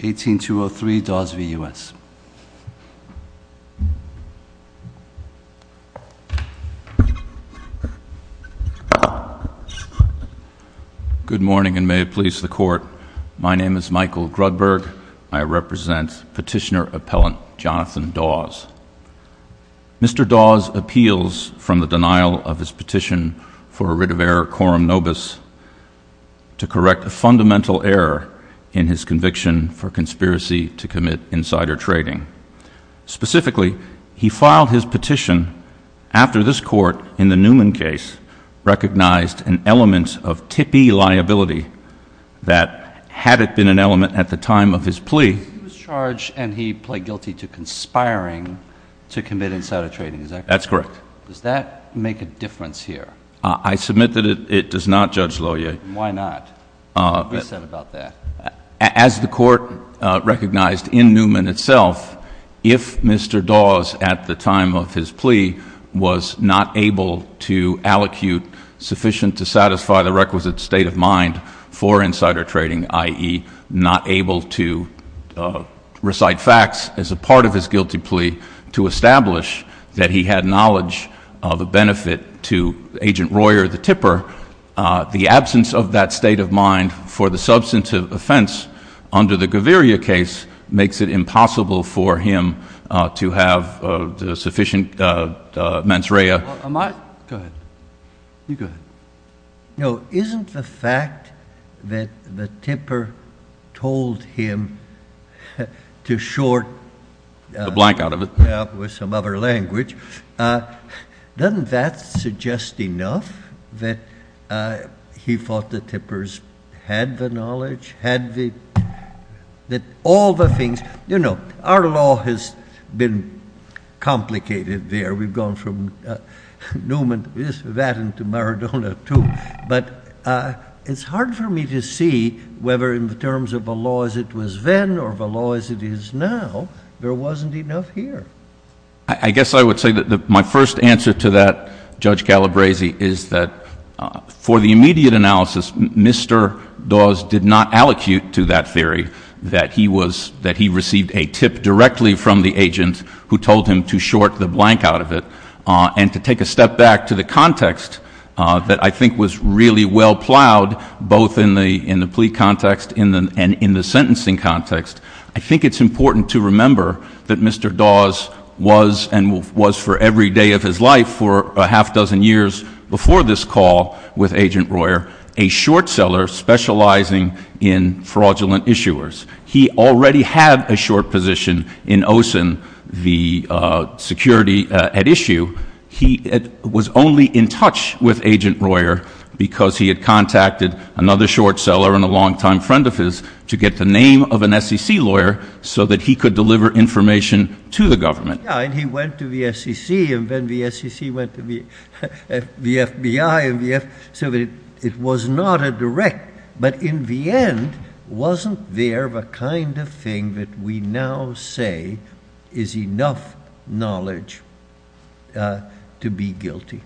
18203 Dawes v. U.S. Good morning and may it please the court. My name is Michael Grudberg. I represent petitioner appellant Jonathan Dawes. Mr. Dawes appeals from the denial of his petition for a writ of error quorum nobis to correct a fundamental error in his conviction for conspiracy to commit insider trading. Specifically, he filed his petition after this court in the Newman case recognized an element of tippy liability that had it been an element at the time of his plea. He was charged and he pled guilty to conspiring to commit insider trading, is that correct? That's correct. Does that make a difference here? I submit that it does not, Judge Lohier. Why not? What do you say about that? As the court recognized in Newman itself, if Mr. Dawes at the time of his plea was not able to allocute sufficient to satisfy the requisite state of mind for insider trading, i.e. not able to recite facts as a part of his guilty plea to establish that he had knowledge of a benefit to agent Royer the tipper, the absence of that state of mind for the substantive offense under the Gaviria case makes it impossible for him to have sufficient mens rea. Am I? Go ahead. You go ahead. No, isn't the fact that the tipper told him to short... enough that he thought the tippers had the knowledge, had the... that all the things, you know, our law has been complicated there. We've gone from Newman, this, that, and to Maradona too, but it's hard for me to see whether in the terms of the law as it was then or the law as it is now, there wasn't enough here. I guess I would say that my first answer to that, Judge Calabresi, is that for the immediate analysis, Mr. Dawes did not allocate to that theory that he was, that he received a tip directly from the agent who told him to short the blank out of it and to take a step back to the context that I think was really well plowed both in the plea context and in the sentencing context. I think it's important to remember that Mr. Dawes was and was for every day of his life for a half dozen years before this call with Agent Royer, a short seller specializing in fraudulent issuers. He already had a short position in OSIN, the security at issue. He was only in touch with Agent Royer because he had contacted another short seller and a longtime friend of his to get the name of an SEC lawyer so that he could deliver information to the government. Yeah, and he went to the SEC and then the SEC went to the FBI so that it was not a direct, but in the end, wasn't there a kind of thing that we now say is enough knowledge to be guilty?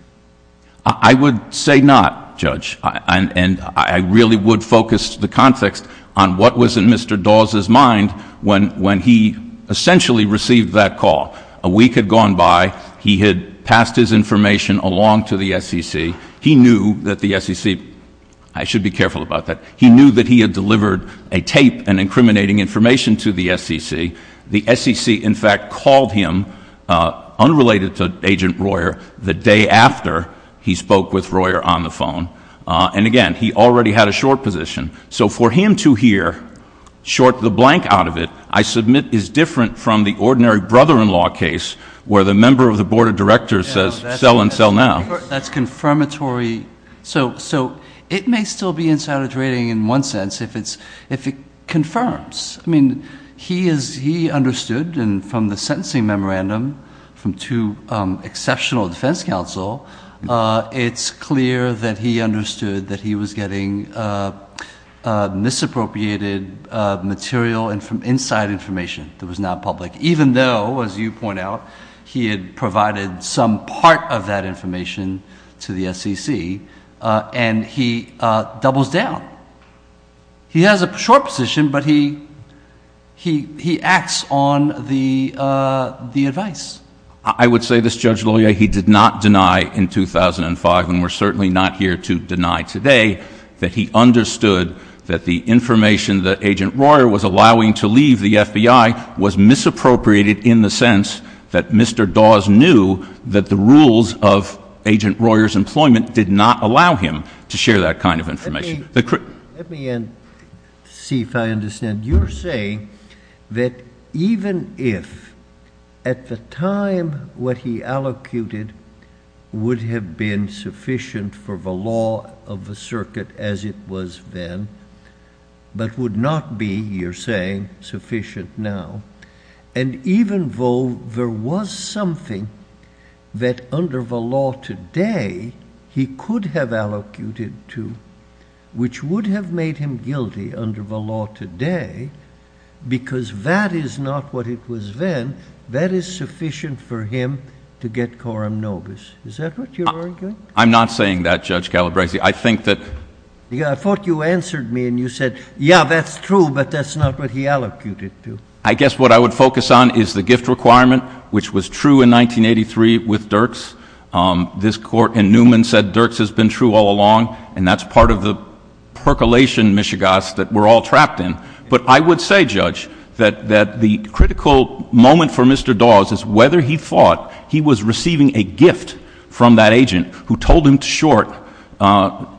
I would say not, Judge, and I really would focus the context on what was in Mr. Dawes's mind when he essentially received that call. A week had gone by. He had passed his information along to the SEC. He knew that the SEC, I should be careful about that, he knew that he had delivered a tape and incriminating information to the SEC. The SEC, in fact, called him, unrelated to Agent Royer, the day after he spoke with Royer on the phone. And again, he already had a short position. So for him to hear short the blank out of it, I submit is different from the ordinary brother-in-law case where the member of the board of directors says sell and sell now. That's confirmatory. So it may still be insider trading in one sense if it confirms. I mean, he understood from the sentencing memorandum from two exceptional defense counsel, it's clear that he understood that he was getting misappropriated material and from inside information that was not public, even though, as you point out, he had provided some part of that information to the SEC, and he doubles down. He has a short position, but he acts on the advice. I would say this, Judge Loyer, he did not deny in 2005, and we're certainly not here to deny today, that he understood that the information that Agent Royer was allowing to leave the FBI was misappropriated in the sense that Mr. Dawes knew that the rules of Agent Royer's employment did not allow him to share that kind of information. Let me see if I understand. You're saying that even if at the time what he allocated would have been sufficient for the law of the circuit as it was then, but would not be, you're saying, sufficient now, and even though there was something that under the law today he could have allocated to, which would have made him guilty under the law today, because that is not what it was then, that is sufficient for him to get coram nobis. Is that what you're arguing? I'm not saying that, Judge Calabresi. I think that — I thought you answered me and you said, yeah, that's true, but that's not what he allocated to. I guess what I would focus on is the gift requirement, which was true in 1983 with Dirks. This Court in Newman said Dirks has been true all along, and that's part of the percolation, Ms. Chagas, that we're all trapped in. But I would say, Judge, that the critical moment for Mr. Dawes is whether he thought he was receiving a gift from that agent who told him to short.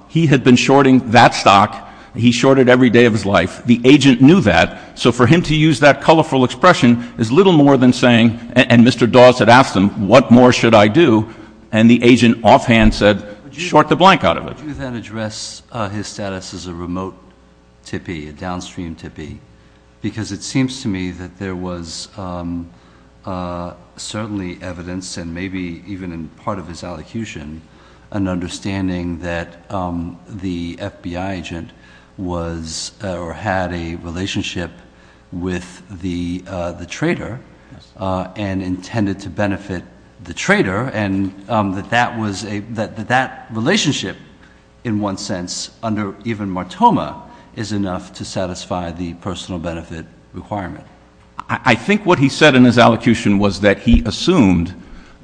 He had been shorting that stock. He shorted every day of his life. The agent knew that, so for him to use that colorful expression is little more than saying — and Mr. Dawes had asked him, what more should I do? And the agent offhand said, short the blank out of it. Would you then address his status as a remote tippee, a downstream tippee? Because it seems to me that there was certainly evidence, and maybe even in part of his allocution, an understanding that the FBI agent was or had a relationship with the trader and intended to benefit the trader, and that that relationship, in one sense, under even Martoma, is enough to satisfy the personal benefit requirement. I think what he said in his allocution was that he assumed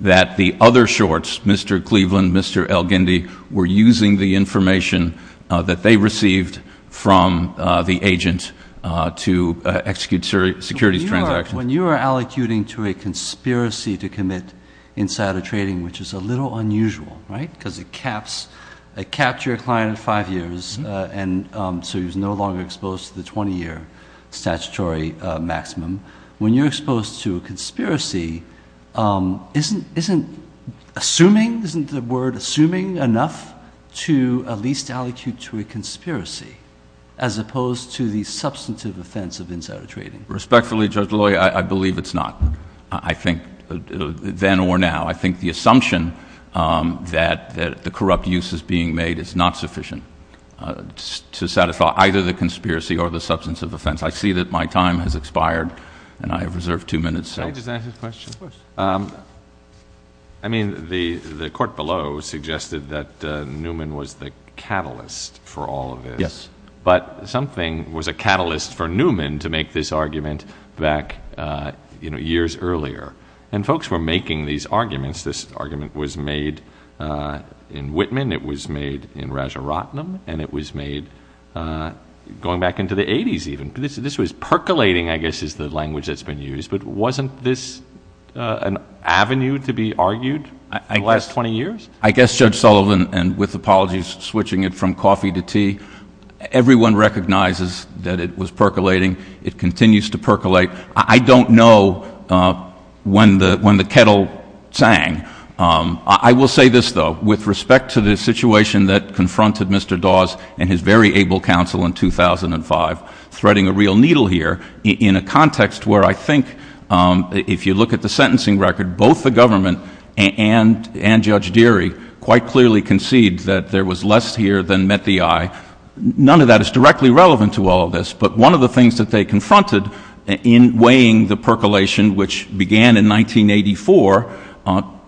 that the other shorts, Mr. Cleveland, Mr. El-Ghindi, were using the information that they received from the agent to execute securities transactions. When you are allocuting to a conspiracy to commit insider trading, which is a little unusual, right, because it caps your client at five years, and so he's no longer exposed to the 20-year statutory maximum. When you're exposed to a conspiracy, isn't assuming — isn't the word assuming enough to at least allocute to a conspiracy, as opposed to the substantive offense of insider trading? Respectfully, Judge Lawyer, I believe it's not, I think, then or now. I think the assumption that the corrupt use is being made is not sufficient to satisfy either the conspiracy or the substantive offense. I see that my time has expired, and I have reserved two minutes. Can I just ask a question? Of course. I mean, the court below suggested that Newman was the catalyst for all of this. Yes. But something was a catalyst for Newman to make this argument back, you know, years earlier. And folks were making these arguments. This argument was made in Whitman. It was made in Rajaratnam. And it was made going back into the 80s, even. This was percolating, I guess, is the language that's been used. But wasn't this an avenue to be argued in the last 20 years? I guess, Judge Sullivan, and with apologies, switching it from coffee to tea, everyone recognizes that it was percolating. It continues to percolate. I don't know when the kettle sang. I will say this, though, with respect to the situation that confronted Mr. Dawes and his very able counsel in 2005, threading a real needle here in a context where I think, if you look at the sentencing record, both the government and Judge Deary quite clearly concede that there was less here than met the eye. None of that is directly relevant to all of this. But one of the things that they confronted in weighing the percolation, which began in 1984,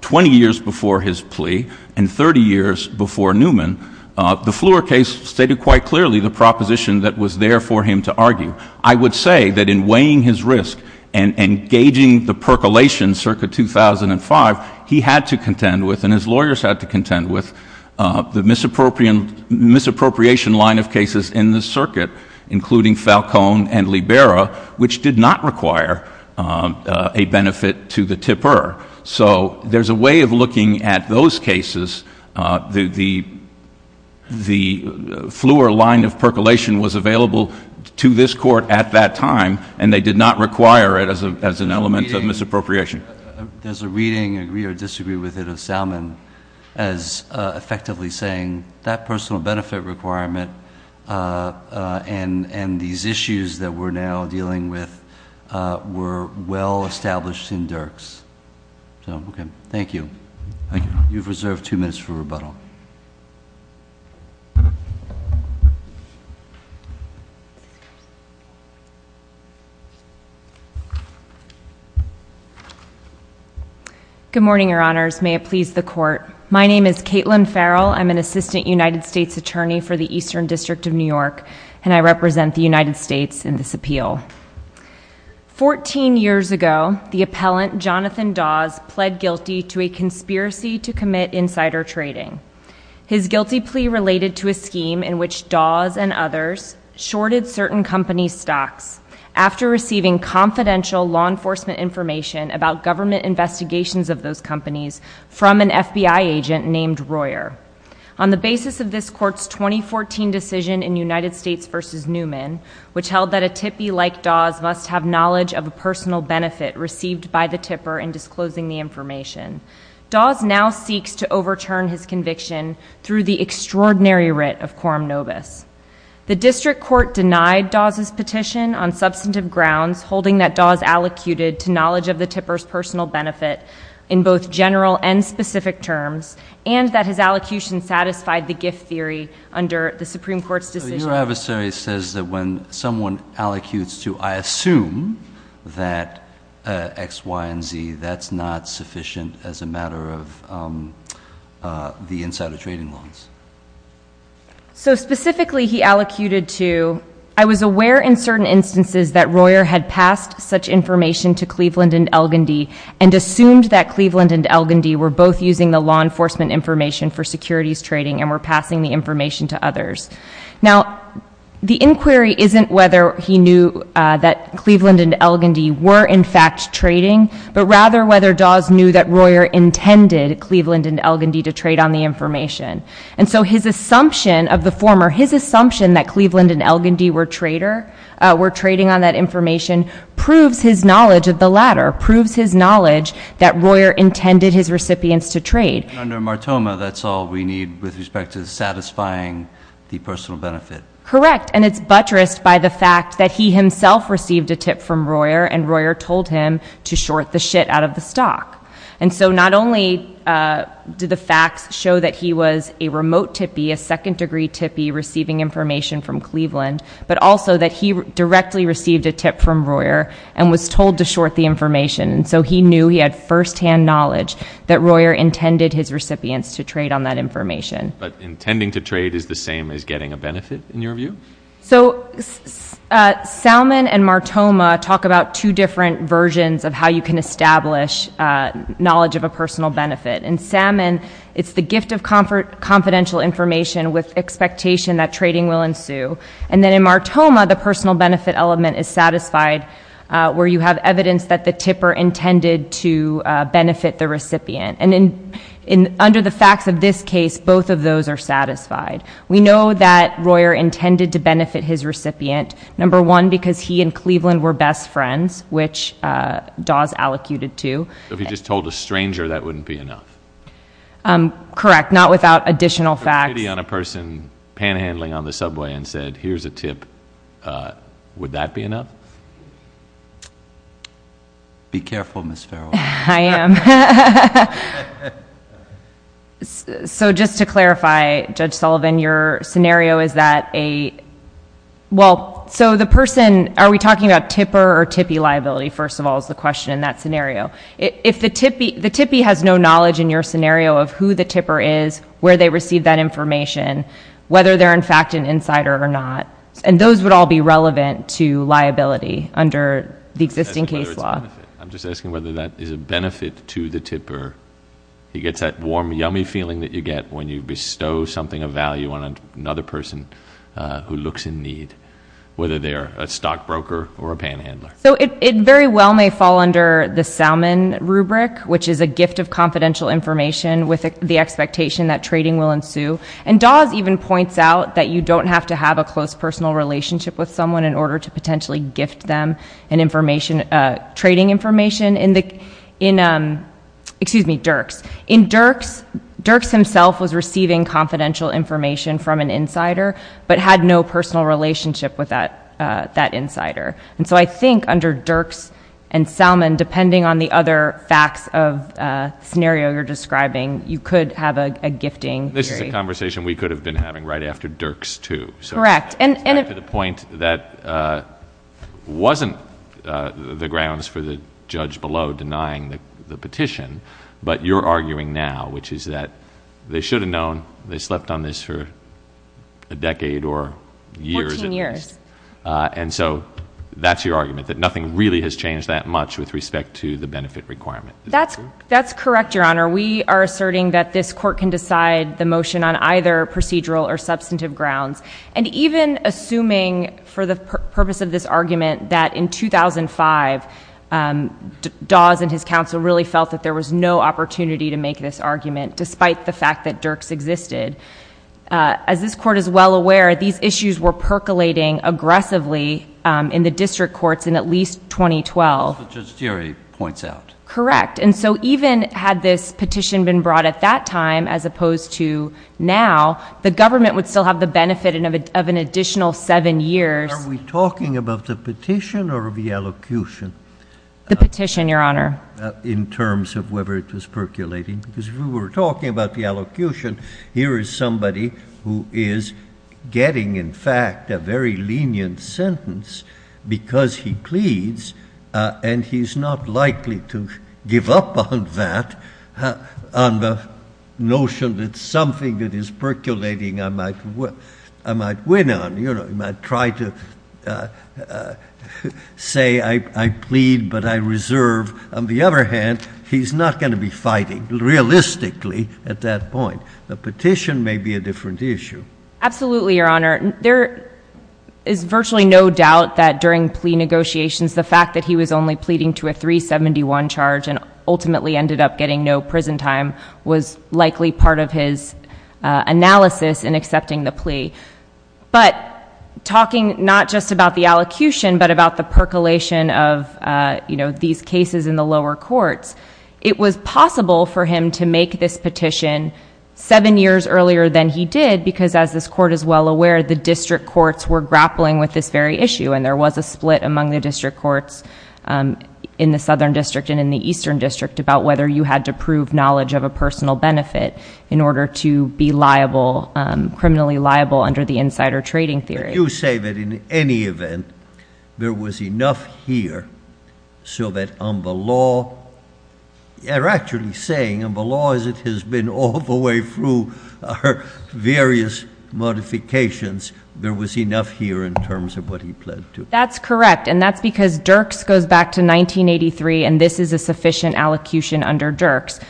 20 years before his plea, and 30 years before Newman, the Fleur case stated quite clearly the proposition that was there for him to argue. I would say that in weighing his risk and gauging the percolation circa 2005, he had to contend with and his lawyers had to contend with the misappropriation line of cases in the circuit, including Falcone and Libera, which did not require a benefit to the tipper. So there's a way of looking at those cases. The Fleur line of percolation was available to this court at that time, and they did not require it as an element of misappropriation. Does a reading agree or disagree with it of Salmon as effectively saying that personal benefit requirement and these issues that we're now dealing with were well established in Dirks? So, okay. Thank you. Good morning, your honors. May it please the court. My name is Caitlin Farrell. I'm an assistant United States attorney for the Eastern District of New York, and I represent the United States in this appeal. 14 years ago, the appellant Jonathan Dawes pled guilty to a conspiracy to commit insider trading. His guilty plea related to a scheme in which Dawes and others shorted certain companies' stocks after receiving confidential law enforcement information about government investigations of those companies from an FBI agent named Royer. On the basis of this court's 2014 decision in United States v. Newman, which held that a tippee like Dawes must have knowledge of a personal benefit received by the tipper in disclosing the information, Dawes now seeks to overturn his conviction through the extraordinary writ of quorum nobis. The district court denied Dawes's petition on substantive grounds, holding that Dawes allocuted to knowledge of the tipper's personal benefit in both general and specific terms, and that his allocution satisfied the gift theory under the Supreme Court's decision. Your adversary says that when someone allocutes to, I assume, that X, Y, and Z, that's not sufficient as a matter of the insider trading loans. So specifically he allocated to, I was aware in certain instances that Royer had passed such information to Cleveland and Elgindy and assumed that Cleveland and Elgindy were both using the law enforcement information for securities trading and were passing the information to others. Now, the inquiry isn't whether he knew that Cleveland and Elgindy were in fact trading, but rather whether Dawes knew that Royer intended Cleveland and Elgindy to trade on the information. And so his assumption of the former, his assumption that Cleveland and Elgindy were trading on that information, proves his knowledge of the latter, proves his knowledge that Royer intended his recipients to trade. And under Martoma, that's all we need with respect to satisfying the personal benefit. Correct, and it's buttressed by the fact that he himself received a tip from Royer, and Royer told him to short the shit out of the stock. And so not only did the facts show that he was a remote tippy, a second degree tippy receiving information from Cleveland, but also that he directly received a tip from Royer and was told to short the information. And so he knew he had firsthand knowledge that Royer intended his recipients to trade on that information. But intending to trade is the same as getting a benefit, in your view? So Salmon and Martoma talk about two different versions of how you can establish knowledge of a personal benefit. In Salmon, it's the gift of confidential information with expectation that trading will ensue. And then in Martoma, the personal benefit element is satisfied, where you have evidence that the tipper intended to benefit the recipient. And under the facts of this case, both of those are satisfied. We know that Royer intended to benefit his recipient, number one, because he and Cleveland were best friends, which Dawes allocated to. So if he just told a stranger, that wouldn't be enough? Correct, not without additional facts. If he took pity on a person panhandling on the subway and said, here's a tip, would that be enough? Be careful, Ms. Farrell. I am. So just to clarify, Judge Sullivan, your scenario is that a, well, so the person, are we talking about tipper or tippy liability, first of all, is the question in that scenario. If the tippy has no knowledge in your scenario of who the tipper is, where they received that information, whether they're in fact an insider or not, and those would all be relevant to liability under the existing case law. I'm just asking whether that is a benefit to the tipper. He gets that warm, yummy feeling that you get when you bestow something of value on another person who looks in need, whether they're a stockbroker or a panhandler. So it very well may fall under the Salmon rubric, which is a gift of confidential information with the expectation that trading will ensue. And Dawes even points out that you don't have to have a close personal relationship with someone in order to potentially gift them an information, trading information in the, excuse me, Dirk's. In Dirk's, Dirk's himself was receiving confidential information from an insider, but had no personal relationship with that insider. And so I think under Dirk's and Salmon, depending on the other facts of the scenario you're describing, you could have a gifting theory. This is a conversation we could have been having right after Dirk's too. Correct. To the point that wasn't the grounds for the judge below denying the petition, but you're arguing now, which is that they should have known they slept on this for a decade or years. 14 years. And so that's your argument, that nothing really has changed that much with respect to the benefit requirement. That's correct, Your Honor. We are asserting that this court can decide the motion on either procedural or substantive grounds. And even assuming for the purpose of this argument that in 2005, Dawes and his counsel really felt that there was no opportunity to make this argument, despite the fact that Dirk's existed, as this court is well aware, these issues were percolating aggressively in the district courts in at least 2012. As the judge's theory points out. Correct. And so even had this petition been brought at that time as opposed to now, the government would still have the benefit of an additional seven years. Are we talking about the petition or the allocution? The petition, Your Honor. In terms of whether it was percolating. Because if we were talking about the allocution, here is somebody who is getting, in fact, a very lenient sentence because he pleads, and he's not likely to give up on that, on the notion that something that is percolating I might win on. I might try to say I plead, but I reserve. On the other hand, he's not going to be fighting realistically at that point. The petition may be a different issue. Absolutely, Your Honor. There is virtually no doubt that during plea negotiations, the fact that he was only pleading to a 371 charge and ultimately ended up getting no prison time was likely part of his analysis in accepting the plea. But talking not just about the allocution, but about the percolation of these cases in the lower courts, it was possible for him to make this petition seven years earlier than he did because, as this Court is well aware, the district courts were grappling with this very issue, and there was a split among the district courts in the Southern District and in the Eastern District about whether you had to prove knowledge of a personal benefit in order to be criminally liable under the insider trading theory. You say that in any event, there was enough here so that on the law, you're actually saying on the law as it has been all the way through various modifications, there was enough here in terms of what he pled to. That's correct, and that's because Dirks goes back to 1983, and this is a sufficient allocution under Dirks.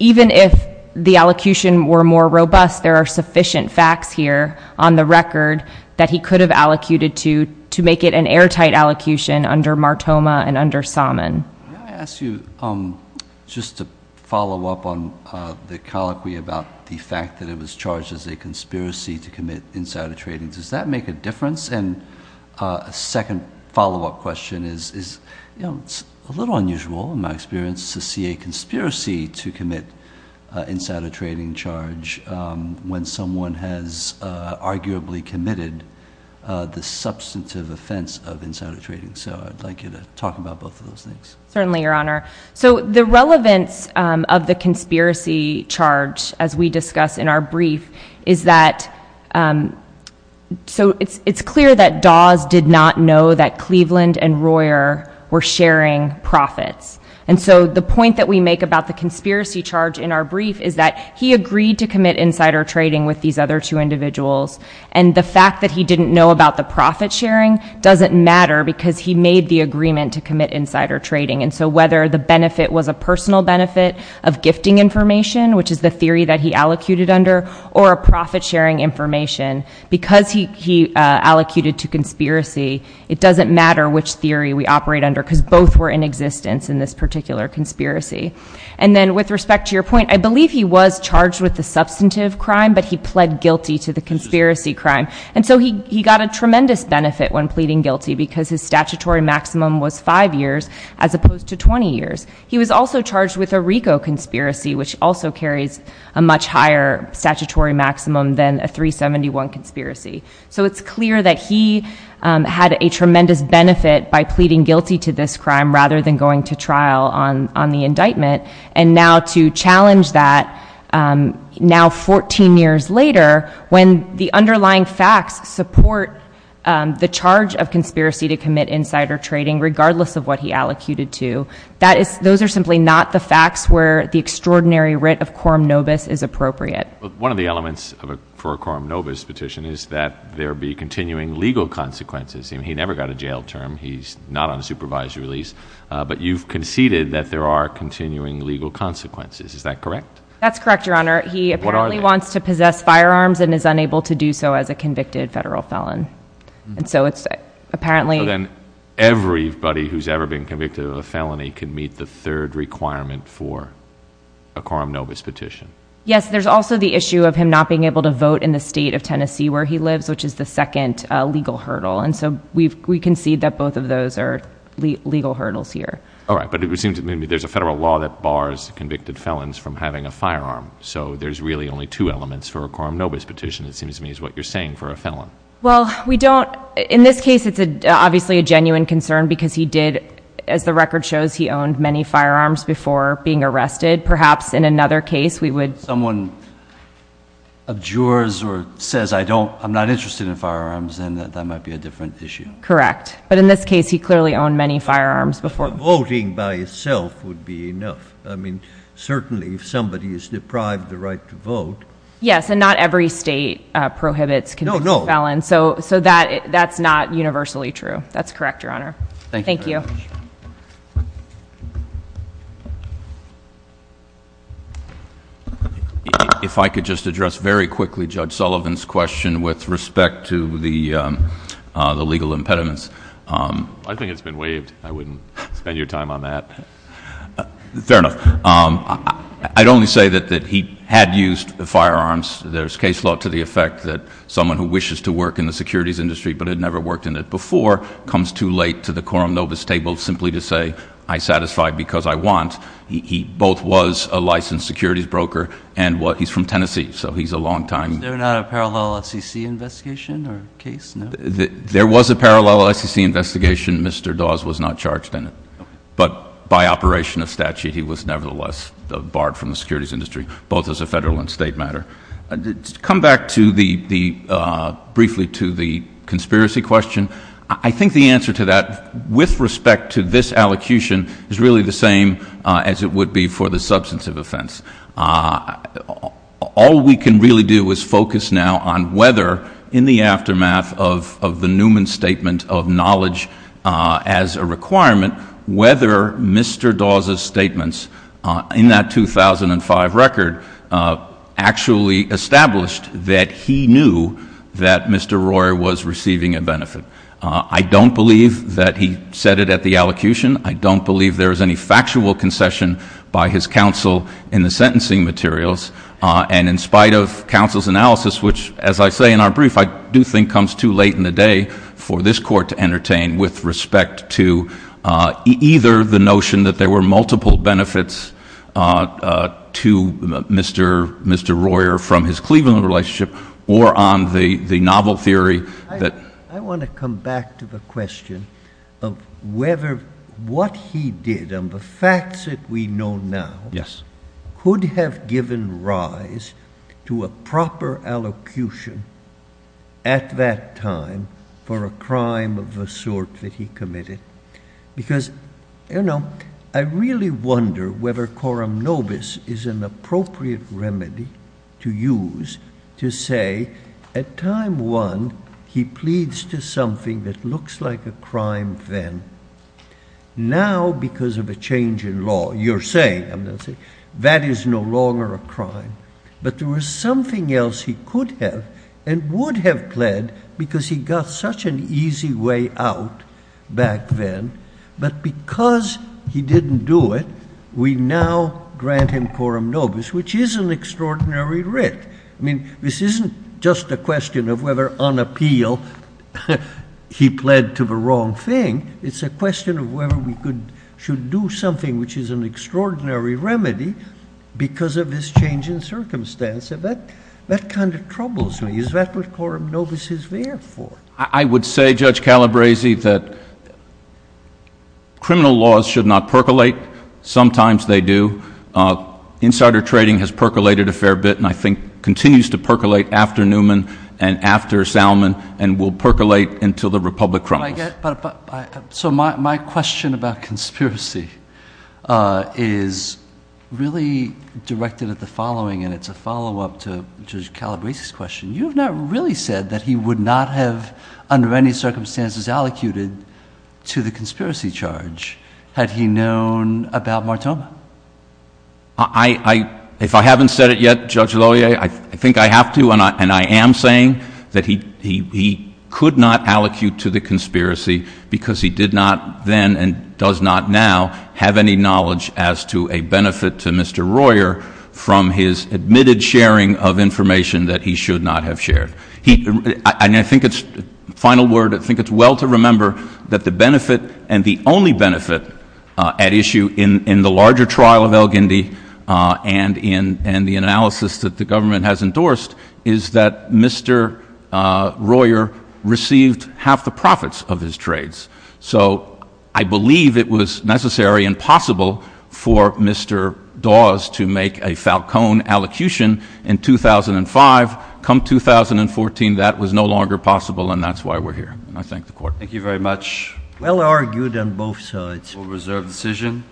Even if the allocution were more robust, there are sufficient facts here on the record that he could have allocated to make it an airtight allocution under Martoma and under Salmon. May I ask you just to follow up on the colloquy about the fact that it was charged as a conspiracy to commit insider trading? Does that make a difference? And a second follow-up question is it's a little unusual in my experience to see a conspiracy to commit insider trading charge when someone has arguably committed the substantive offense of insider trading. So I'd like you to talk about both of those things. Certainly, Your Honor. So the relevance of the conspiracy charge, as we discuss in our brief, is that it's clear that Dawes did not know that Cleveland and Royer were sharing profits. And so the point that we make about the conspiracy charge in our brief is that he agreed to commit insider trading with these other two individuals, and the fact that he didn't know about the profit-sharing doesn't matter because he made the agreement to commit insider trading. And so whether the benefit was a personal benefit of gifting information, which is the theory that he allocated under, or a profit-sharing information, because he allocated to conspiracy, it doesn't matter which theory we operate under because both were in existence in this particular conspiracy. And then with respect to your point, I believe he was charged with the substantive crime, but he pled guilty to the conspiracy crime. And so he got a tremendous benefit when pleading guilty because his statutory maximum was five years as opposed to 20 years. He was also charged with a RICO conspiracy, which also carries a much higher statutory maximum than a 371 conspiracy. So it's clear that he had a tremendous benefit by pleading guilty to this crime rather than going to trial on the indictment. And now to challenge that now 14 years later when the underlying facts support the charge of conspiracy to commit insider trading regardless of what he allocated to, those are simply not the facts where the extraordinary writ of quorum nobis is appropriate. One of the elements for a quorum nobis petition is that there be continuing legal consequences. He never got a jail term. He's not on a supervised release. But you've conceded that there are continuing legal consequences. Is that correct? That's correct, Your Honor. He apparently wants to possess firearms and is unable to do so as a convicted federal felon. And so it's apparently— So then everybody who's ever been convicted of a felony can meet the third requirement for a quorum nobis petition. Yes. There's also the issue of him not being able to vote in the state of Tennessee where he lives, which is the second legal hurdle. And so we concede that both of those are legal hurdles here. All right. But it seems to me there's a federal law that bars convicted felons from having a firearm. So there's really only two elements for a quorum nobis petition, it seems to me, is what you're saying for a felon. Well, we don't— In this case, it's obviously a genuine concern because he did, as the record shows, he owned many firearms before being arrested. Perhaps in another case we would— If someone abjures or says, I'm not interested in firearms, then that might be a different issue. Correct. But in this case, he clearly owned many firearms before— Voting by itself would be enough. I mean, certainly if somebody is deprived the right to vote— Yes, and not every state prohibits convicted felons. No, no. So that's not universally true. That's correct, Your Honor. Thank you very much. Thank you. If I could just address very quickly Judge Sullivan's question with respect to the legal impediments. I think it's been waived. I wouldn't spend your time on that. Fair enough. I'd only say that he had used firearms. There's case law to the effect that someone who wishes to work in the securities industry but had never worked in it before comes too late to the quorum nobis table simply to say, I satisfy because I want. He both was a licensed securities broker and he's from Tennessee, so he's a longtime— Was there not a parallel SEC investigation or case? There was a parallel SEC investigation. Mr. Dawes was not charged in it. But by operation of statute, he was nevertheless barred from the securities industry, both as a federal and state matter. To come back briefly to the conspiracy question, I think the answer to that with respect to this allocution is really the same as it would be for the substance of offense. All we can really do is focus now on whether in the aftermath of the Newman statement of knowledge as a requirement, whether Mr. Dawes' statements in that 2005 record actually established that he knew that Mr. Royer was receiving a benefit. I don't believe that he said it at the allocution. I don't believe there is any factual concession by his counsel in the sentencing materials. And in spite of counsel's analysis, which, as I say in our brief, I do think comes too late in the day for this court to entertain with respect to either the notion that there were multiple benefits to Mr. Royer from his Cleveland relationship or on the novel theory that— I want to come back to the question of whether what he did and the facts that we know now— Yes. —could have given rise to a proper allocution at that time for a crime of the sort that he committed. Because, you know, I really wonder whether coram nobis is an appropriate remedy to use to say, at time one, he pleads to something that looks like a crime then. Now, because of a change in law, you're saying, I'm going to say, that is no longer a crime. But there was something else he could have and would have pled because he got such an easy way out back then. But because he didn't do it, we now grant him coram nobis, which is an extraordinary writ. I mean, this isn't just a question of whether, on appeal, he pled to the wrong thing. It's a question of whether we should do something which is an extraordinary remedy because of his change in circumstance. That kind of troubles me. Is that what coram nobis is there for? I would say, Judge Calabresi, that criminal laws should not percolate. Sometimes they do. Insider trading has percolated a fair bit and I think continues to percolate after Newman and after Salmon and will percolate until the Republic crumbles. So my question about conspiracy is really directed at the following, and it's a follow-up to Judge Calabresi's question. You have not really said that he would not have, under any circumstances, allocated to the conspiracy charge had he known about Martoma. If I haven't said it yet, Judge Loyer, I think I have to, and I am saying that he could not allocate to the conspiracy because he did not then and does not now have any knowledge as to a benefit to Mr. Royer from his admitted sharing of information that he should not have shared. And I think it's, final word, I think it's well to remember that the benefit and the only benefit at issue in the larger trial of El Gindi and the analysis that the government has endorsed is that Mr. Royer received half the profits of his trades. So I believe it was necessary and possible for Mr. Dawes to make a Falcone allocution in 2005. Come 2014, that was no longer possible and that's why we're here. And I thank the Court. Thank you very much. Well argued on both sides. Reserved decision.